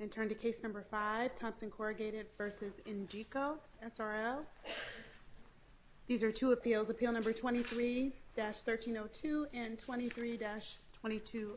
And turn to case number 5, Thompson Corrugated vs. Engico S.r.l. These are two appeals, appeal number 23-1302 and 23-2206.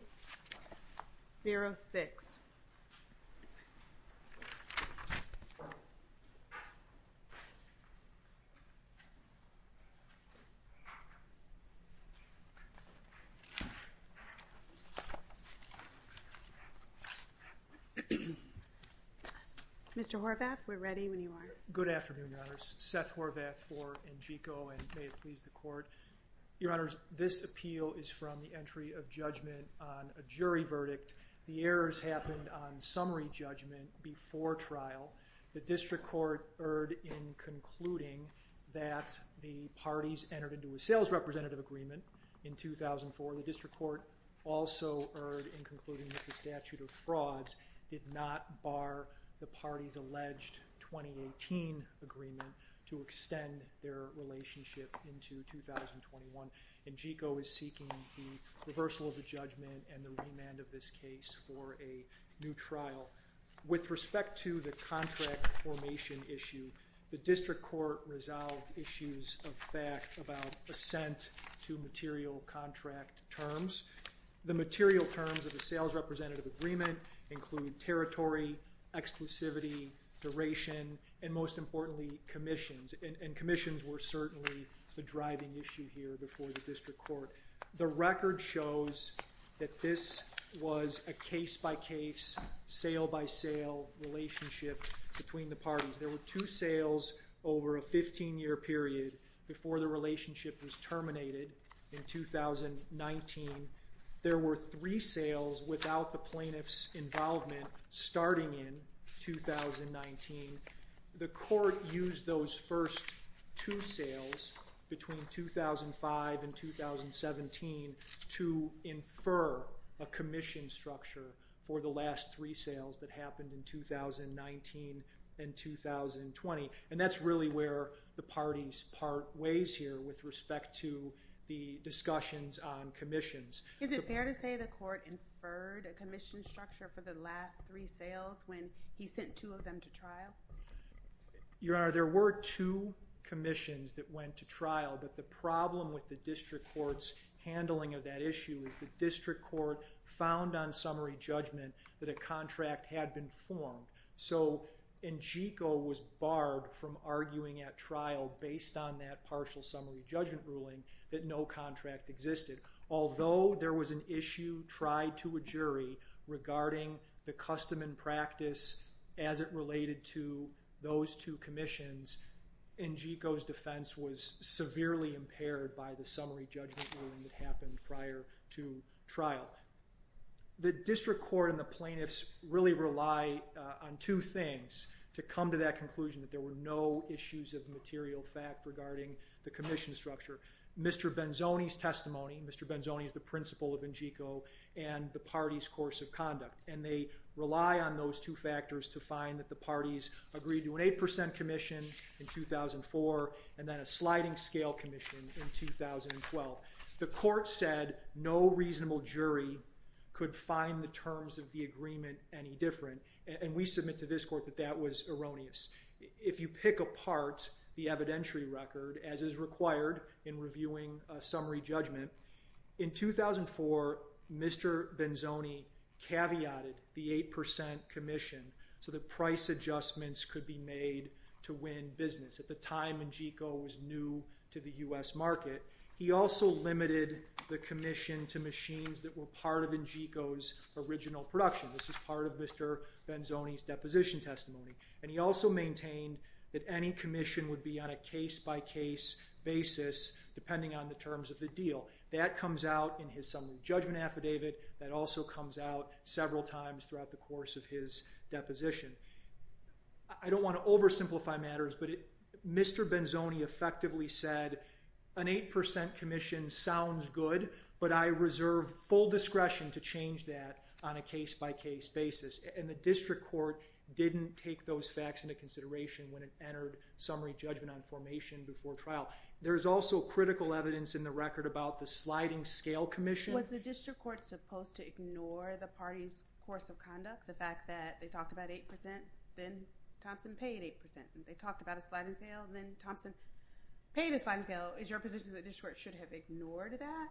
Mr. Horvath, we're ready when you are. Good afternoon, Your Honor. Seth Horvath for Engico and may it please the Court. Your Honor, this appeal is from the entry of judgment on a jury verdict. The errors happened on summary judgment before trial. The District Court erred in concluding that the parties entered into a sales representative agreement in 2004. The District Court also erred in concluding that the statute of frauds did not bar the parties' alleged 2018 agreement to extend their relationship into 2021. Engico is seeking the reversal of the judgment and the remand of this case for a new trial. With respect to the contract formation issue, the District Court resolved issues of fact about assent to material contract terms. The material terms of the sales representative agreement include territory, exclusivity, duration, and most importantly, commissions. And commissions were certainly the driving issue here before the District Court. The record shows that this was a case-by-case, sale-by-sale relationship between the parties. There were two sales over a 15-year period before the relationship was terminated in 2019. There were three sales without the plaintiff's involvement starting in 2019. The court used those first two sales between 2005 and 2017 to infer a commission structure for the last three sales that happened in 2019 and 2020. And that's really where the parties part ways here with respect to the discussions on commissions. Is it fair to say the court inferred a commission structure for the last three sales when he sent two of them to trial? Your Honor, there were two commissions that went to trial. But the problem with the District Court's handling of that issue is the District Court found on summary judgment that a contract had been formed. So Engico was barred from arguing at trial based on that partial summary judgment ruling that no contract existed. Although there was an issue tried to a jury regarding the custom and practice as it related to those two commissions, Engico's defense was severely impaired by the summary judgment ruling that happened prior to trial. The District Court and the plaintiffs really rely on two things to come to that conclusion, that there were no issues of material fact regarding the commission structure. Mr. Benzoni's testimony, Mr. Benzoni is the principal of Engico, and the party's course of conduct. And they rely on those two factors to find that the parties agreed to an 8% commission in 2004 and then a sliding scale commission in 2012. The court said no reasonable jury could find the terms of the agreement any different. And we submit to this court that that was erroneous. If you pick apart the evidentiary record, as is required in reviewing a summary judgment, in 2004, Mr. Benzoni caveated the 8% commission so that price adjustments could be made to win business. At the time, Engico was new to the U.S. market. He also limited the commission to machines that were part of Engico's original production. This is part of Mr. Benzoni's deposition testimony. And he also maintained that any commission would be on a case-by-case basis, depending on the terms of the deal. That comes out in his summary judgment affidavit. That also comes out several times throughout the course of his deposition. I don't want to oversimplify matters, but Mr. Benzoni effectively said, an 8% commission sounds good, but I reserve full discretion to change that on a case-by-case basis. And the district court didn't take those facts into consideration when it entered summary judgment on formation before trial. There is also critical evidence in the record about the sliding scale commission. Was the district court supposed to ignore the party's course of conduct? The fact that they talked about 8%, then Thompson paid 8%. They talked about a sliding scale, then Thompson paid a sliding scale. Is your position that the district court should have ignored that?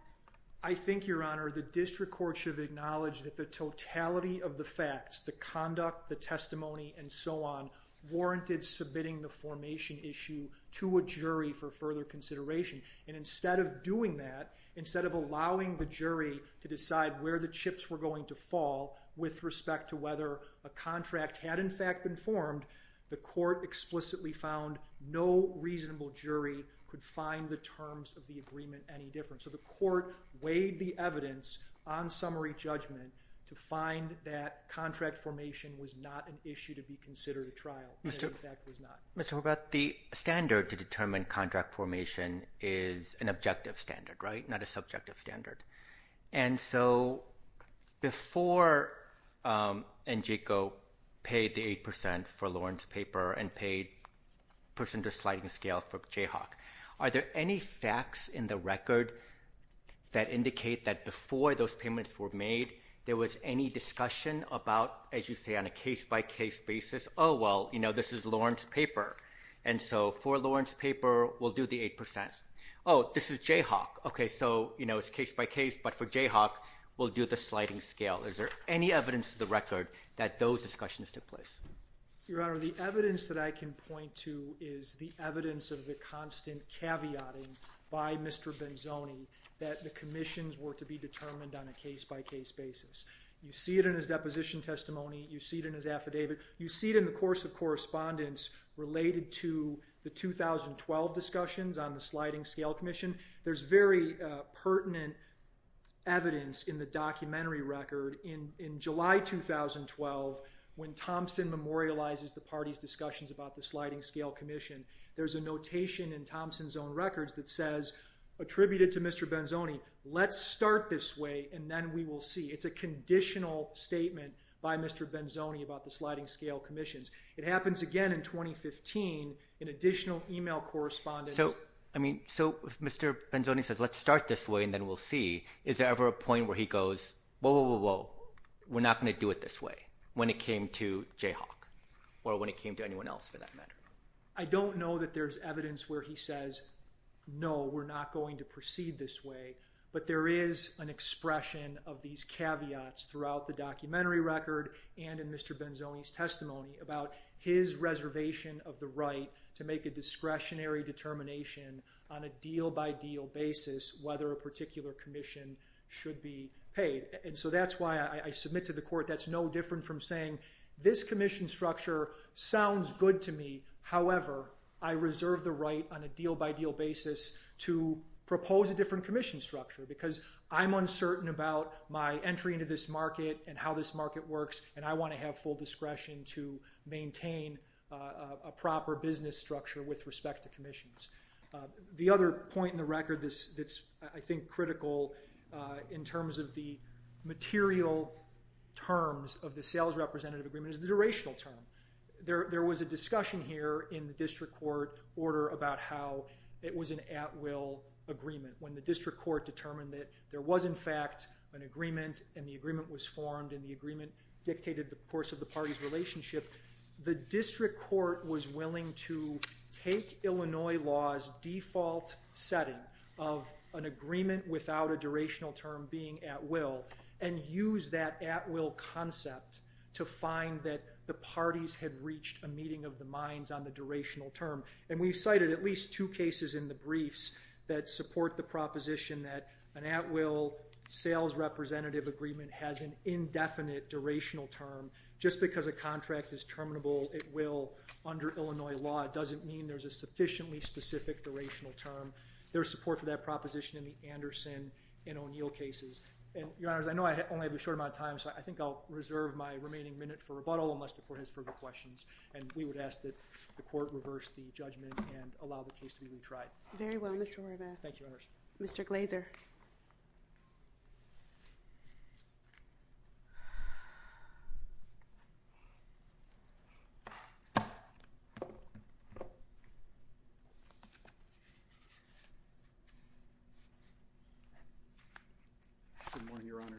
I think, Your Honor, the district court should have acknowledged that the totality of the facts, the conduct, the testimony, and so on, warranted submitting the formation issue to a jury for further consideration. And instead of doing that, instead of allowing the jury to decide where the chips were going to fall with respect to whether a contract had in fact been formed, the court explicitly found no reasonable jury could find the terms of the agreement any different. So the court weighed the evidence on summary judgment to find that contract formation was not an issue to be considered at trial. It, in fact, was not. Mr. Horvath, the standard to determine contract formation is an objective standard, right, not a subjective standard. And so before NJCO paid the 8% for Lauren's paper and paid person to sliding scale for Jayhawk, are there any facts in the record that indicate that before those payments were made, there was any discussion about, as you say, on a case-by-case basis? Oh, well, you know, this is Lauren's paper, and so for Lauren's paper, we'll do the 8%. Oh, this is Jayhawk. Okay, so, you know, it's case-by-case, but for Jayhawk, we'll do the sliding scale. Is there any evidence to the record that those discussions took place? Your Honor, the evidence that I can point to is the evidence of the constant caveatting by Mr. Benzoni that the commissions were to be determined on a case-by-case basis. You see it in his deposition testimony. You see it in his affidavit. You see it in the course of correspondence related to the 2012 discussions on the sliding scale commission. There's very pertinent evidence in the documentary record in July 2012 when Thompson memorializes the party's discussions about the sliding scale commission. There's a notation in Thompson's own records that says, attributed to Mr. Benzoni, let's start this way, and then we will see. It's a conditional statement by Mr. Benzoni about the sliding scale commissions. It happens again in 2015 in additional email correspondence. So if Mr. Benzoni says, let's start this way, and then we'll see, is there ever a point where he goes, whoa, whoa, whoa, whoa, we're not going to do it this way when it came to Jayhawk or when it came to anyone else for that matter? I don't know that there's evidence where he says, no, we're not going to proceed this way, but there is an expression of these caveats throughout the documentary record and in Mr. Benzoni's testimony about his reservation of the right to make a discretionary determination on a deal-by-deal basis whether a particular commission should be paid. And so that's why I submit to the court that's no different from saying, this commission structure sounds good to me. However, I reserve the right on a deal-by-deal basis to propose a different commission structure because I'm uncertain about my entry into this market and how this market works, and I want to have full discretion to maintain a proper business structure with respect to commissions. The other point in the record that's, I think, critical in terms of the material terms of the sales representative agreement is the durational term. There was a discussion here in the district court order about how it was an at-will agreement when the district court determined that there was, in fact, an agreement, and the agreement was formed, and the agreement dictated the course of the party's relationship. The district court was willing to take Illinois law's default setting of an agreement without a durational term being at-will and use that at-will concept to find that the parties had reached a meeting of the minds on the durational term. And we've cited at least two cases in the briefs that support the proposition that an at-will sales representative agreement has an indefinite durational term. Just because a contract is terminable, it will, under Illinois law, doesn't mean there's a sufficiently specific durational term. There's support for that proposition in the Anderson and O'Neill cases. And, Your Honors, I know I only have a short amount of time, so I think I'll reserve my remaining minute for rebuttal unless the court has further questions, and we would ask that the court reverse the judgment and allow the case to be retried. Very well, Mr. Horvath. Thank you, Your Honors. Mr. Glazer. Good morning, Your Honors.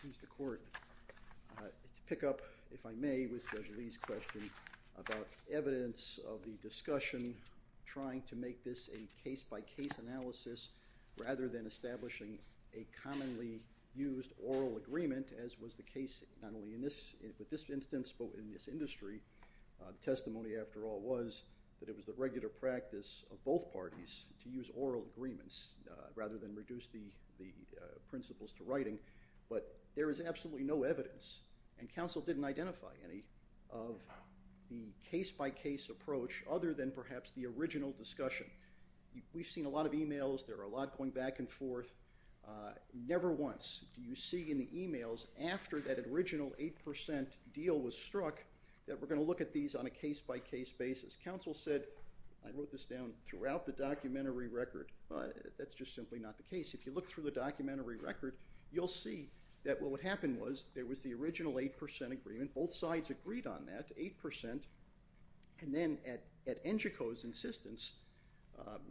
Please, the court, pick up, if I may, with Judge Lee's question about evidence of the discussion between trying to make this a case-by-case analysis rather than establishing a commonly used oral agreement, as was the case not only in this instance but in this industry. The testimony, after all, was that it was the regular practice of both parties to use oral agreements rather than reduce the principles to writing. But there is absolutely no evidence, and counsel didn't identify any, of the case-by-case approach other than perhaps the original discussion. We've seen a lot of e-mails. There are a lot going back and forth. Never once do you see in the e-mails after that original 8% deal was struck that we're going to look at these on a case-by-case basis. Counsel said, I wrote this down throughout the documentary record, but that's just simply not the case. If you look through the documentary record, you'll see that what would happen was there was the original 8% agreement. Both sides agreed on that, 8%. And then at NGCO's insistence,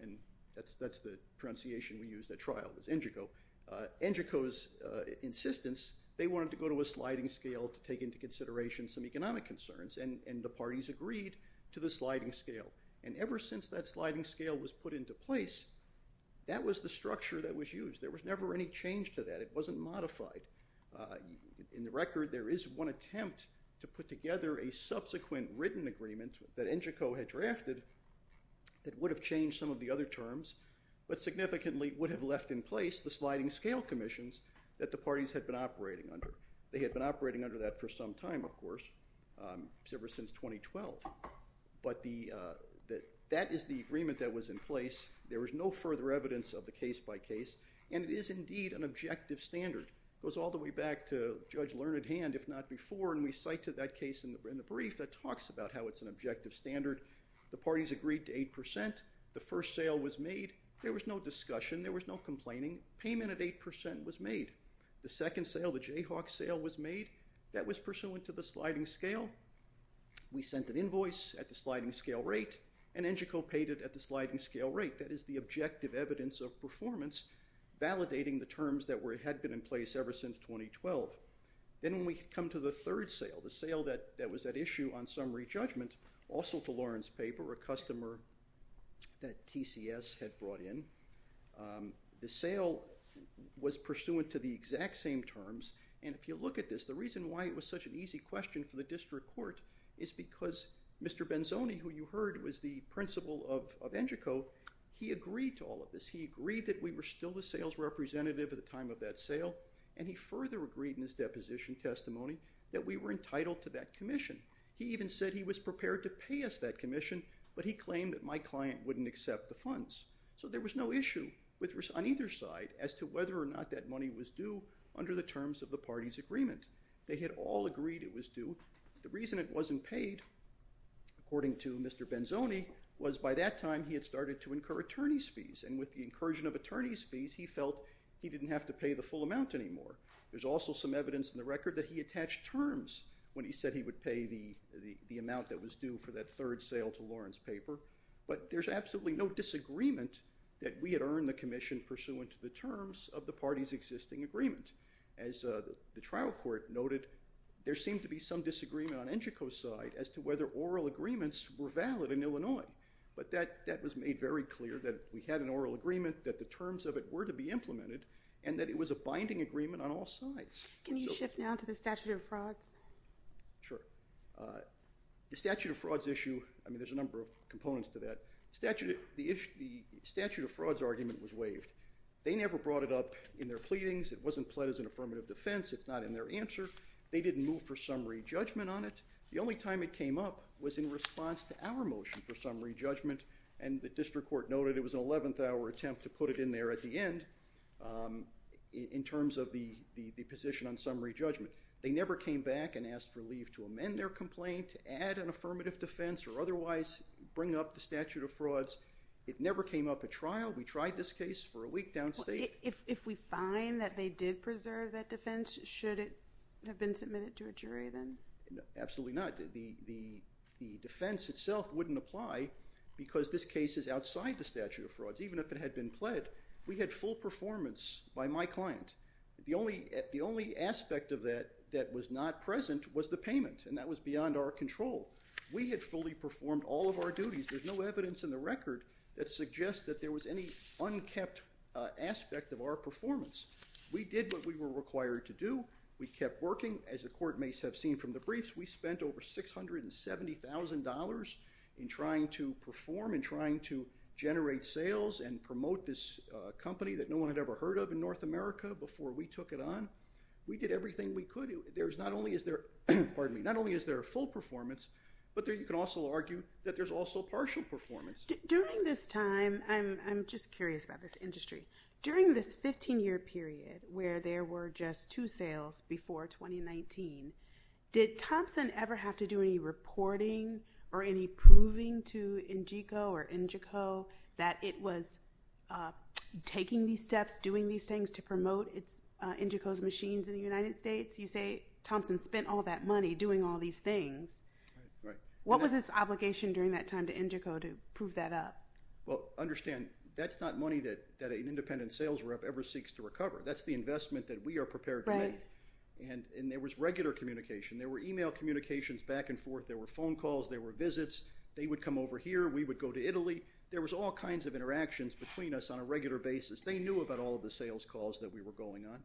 and that's the pronunciation we used at trial was NGCO, NGCO's insistence, they wanted to go to a sliding scale to take into consideration some economic concerns, and the parties agreed to the sliding scale. And ever since that sliding scale was put into place, that was the structure that was used. There was never any change to that. It wasn't modified. In the record, there is one attempt to put together a subsequent written agreement that NGCO had drafted that would have changed some of the other terms, but significantly would have left in place the sliding scale commissions that the parties had been operating under. They had been operating under that for some time, of course, ever since 2012. But that is the agreement that was in place. There was no further evidence of the case-by-case, and it is indeed an objective standard. It goes all the way back to Judge Learned Hand, if not before, and we cite to that case in the brief that talks about how it's an objective standard. The parties agreed to 8%. The first sale was made. There was no discussion. There was no complaining. Payment at 8% was made. The second sale, the Jayhawk sale, was made. That was pursuant to the sliding scale. We sent an invoice at the sliding scale rate, and NGCO paid it at the sliding scale rate. That is the objective evidence of performance, validating the terms that had been in place ever since 2012. Then we come to the third sale, the sale that was at issue on summary judgment, also to Lauren's paper, a customer that TCS had brought in. The sale was pursuant to the exact same terms, and if you look at this, the reason why it was such an easy question for the district court is because Mr. Benzoni, who you heard was the principal of NGCO, he agreed to all of this. He agreed that we were still the sales representative at the time of that sale, and he further agreed in his deposition testimony that we were entitled to that commission. He even said he was prepared to pay us that commission, but he claimed that my client wouldn't accept the funds. So there was no issue on either side as to whether or not that money was due under the terms of the party's agreement. They had all agreed it was due. The reason it wasn't paid, according to Mr. Benzoni, was by that time he had started to incur attorney's fees, and with the incursion of attorney's fees, he felt he didn't have to pay the full amount anymore. There's also some evidence in the record that he attached terms when he said he would pay the amount that was due for that third sale to Lawrence Paper, but there's absolutely no disagreement that we had earned the commission pursuant to the terms of the party's existing agreement. As the trial court noted, there seemed to be some disagreement on NGCO's side as to whether oral agreements were valid in Illinois, but that was made very clear that we had an oral agreement, that the terms of it were to be implemented, and that it was a binding agreement on all sides. Can you shift now to the statute of frauds? Sure. The statute of frauds issue, I mean, there's a number of components to that. The statute of frauds argument was waived. They never brought it up in their pleadings. It wasn't pled as an affirmative defense. It's not in their answer. They didn't move for summary judgment on it. The only time it came up was in response to our motion for summary judgment, and the district court noted it was an 11th-hour attempt to put it in there at the end in terms of the position on summary judgment. They never came back and asked for leave to amend their complaint, to add an affirmative defense, or otherwise bring up the statute of frauds. It never came up at trial. We tried this case for a week downstate. If we find that they did preserve that defense, should it have been submitted to a jury then? Absolutely not. The defense itself wouldn't apply because this case is outside the statute of frauds, even if it had been pled. We had full performance by my client. The only aspect of that that was not present was the payment, and that was beyond our control. We had fully performed all of our duties. There's no evidence in the record that suggests that there was any unkept aspect of our performance. We did what we were required to do. We kept working. As the court may have seen from the briefs, we spent over $670,000 in trying to perform and trying to generate sales and promote this company that no one had ever heard of in North America before we took it on. We did everything we could. There's not only is there a full performance, but you can also argue that there's also partial performance. During this time, I'm just curious about this industry. During this 15-year period where there were just two sales before 2019, did Thompson ever have to do any reporting or any proving to Ingeco or Ingeco that it was taking these steps, doing these things to promote Ingeco's machines in the United States? You say Thompson spent all that money doing all these things. What was his obligation during that time to Ingeco to prove that up? Understand, that's not money that an independent sales rep ever seeks to recover. That's the investment that we are prepared to make. There was regular communication. There were email communications back and forth. There were phone calls. There were visits. They would come over here. We would go to Italy. There was all kinds of interactions between us on a regular basis. They knew about all of the sales calls that we were going on.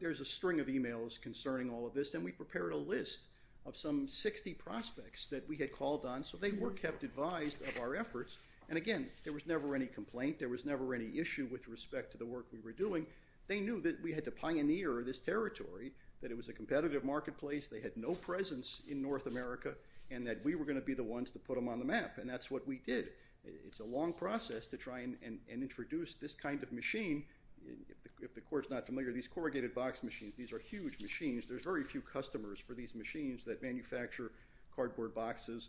There's a string of emails concerning all of this, and we prepared a list of some 60 prospects that we had called on, so they were kept advised of our efforts. Again, there was never any complaint. There was never any issue with respect to the work we were doing. They knew that we had to pioneer this territory, that it was a competitive marketplace, they had no presence in North America, and that we were going to be the ones to put them on the map, and that's what we did. It's a long process to try and introduce this kind of machine. If the court's not familiar, these corrugated box machines, these are huge machines. There's very few customers for these machines that manufacture cardboard boxes,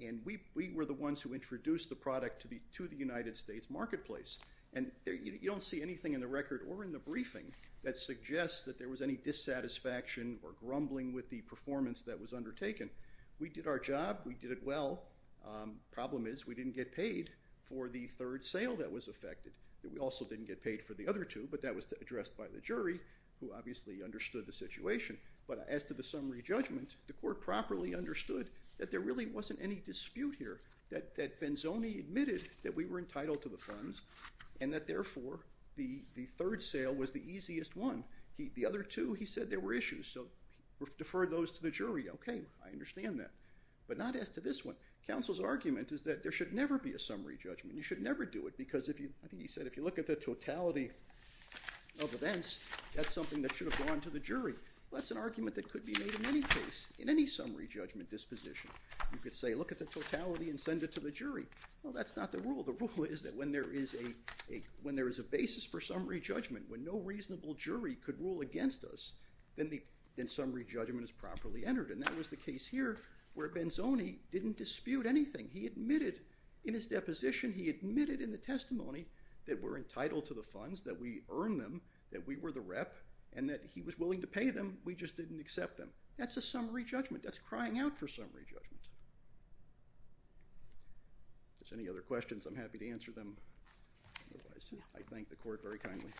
and we were the ones who introduced the product to the United States marketplace. You don't see anything in the record or in the briefing that suggests that there was any dissatisfaction or grumbling with the performance that was undertaken. We did our job. We did it well. The problem is we didn't get paid for the third sale that was affected. We also didn't get paid for the other two, but that was addressed by the jury, who obviously understood the situation. But as to the summary judgment, the court properly understood that there really wasn't any dispute here, that Benzoni admitted that we were entitled to the funds and that, therefore, the third sale was the easiest one. The other two he said there were issues, so deferred those to the jury. Okay, I understand that. But not as to this one. Counsel's argument is that there should never be a summary judgment. You should never do it because, I think he said, if you look at the totality of events, that's something that should have gone to the jury. Well, that's an argument that could be made in any case, in any summary judgment disposition. You could say, look at the totality and send it to the jury. Well, that's not the rule. The rule is that when there is a basis for summary judgment, when no reasonable jury could rule against us, then summary judgment is properly entered. And that was the case here where Benzoni didn't dispute anything. He admitted in his deposition, he admitted in the testimony, that we're entitled to the funds, that we earned them, that we were the rep, and that he was willing to pay them. We just didn't accept them. That's a summary judgment. That's crying out for summary judgment. If there's any other questions, I'm happy to answer them. Otherwise, I thank the court very kindly.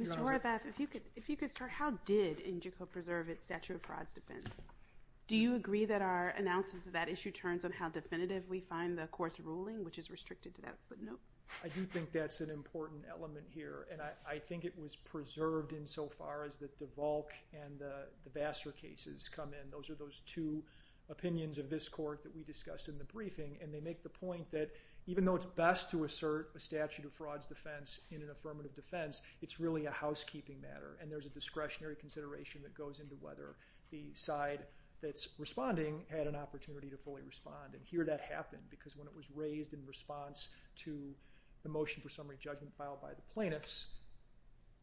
Mr. Horvath, if you could start, how did INJICO preserve its statute of frauds defense? Do you agree that our analysis of that issue returns on how definitive we find the court's ruling, which is restricted to that footnote? I do think that's an important element here. And I think it was preserved insofar as the DeVolk and the Vassar cases come in. Those are those two opinions of this court that we discussed in the briefing. And they make the point that even though it's best to assert a statute of frauds defense in an affirmative defense, it's really a housekeeping matter. And there's a discretionary consideration that goes into whether the side that's responding had an opportunity to fully respond. And here that happened, because when it was raised in response to the motion for summary judgment filed by the plaintiffs,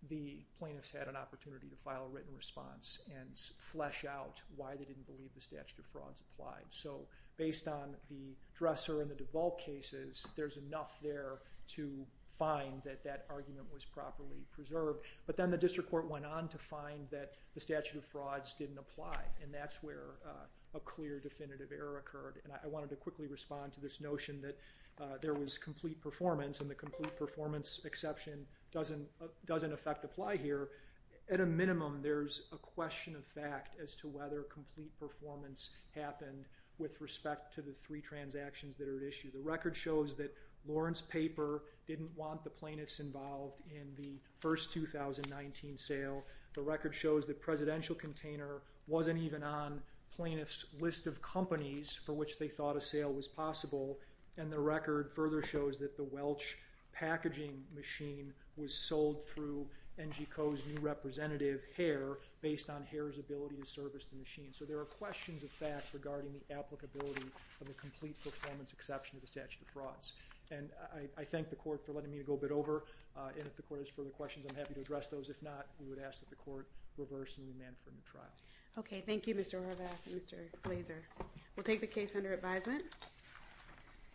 the plaintiffs had an opportunity to file a written response and flesh out why they didn't believe the statute of frauds applied. So based on the Dresser and the DeVolk cases, there's enough there to find that that argument was properly preserved. But then the district court went on to find that the statute of frauds didn't apply. And that's where a clear definitive error occurred. And I wanted to quickly respond to this notion that there was complete performance. And the complete performance exception doesn't affect apply here. At a minimum, there's a question of fact as to whether complete performance happened with respect to the three transactions that are at issue. The record shows that Lawrence Paper didn't want the plaintiffs involved in the first 2019 sale. The record shows the presidential container wasn't even on plaintiffs' list of companies for which they thought a sale was possible. And the record further shows that the Welch packaging machine was sold through NGCO's new representative, Hare, based on Hare's ability to service the machine. So there are questions of fact regarding the applicability of the complete performance exception to the statute of frauds. And I thank the court for letting me go a bit over. And if the court has further questions, I'm happy to address those. If not, we would ask that the court reverse OK, thank you, Mr. Horvath and Mr. Glazer. We'll take the case under advisement.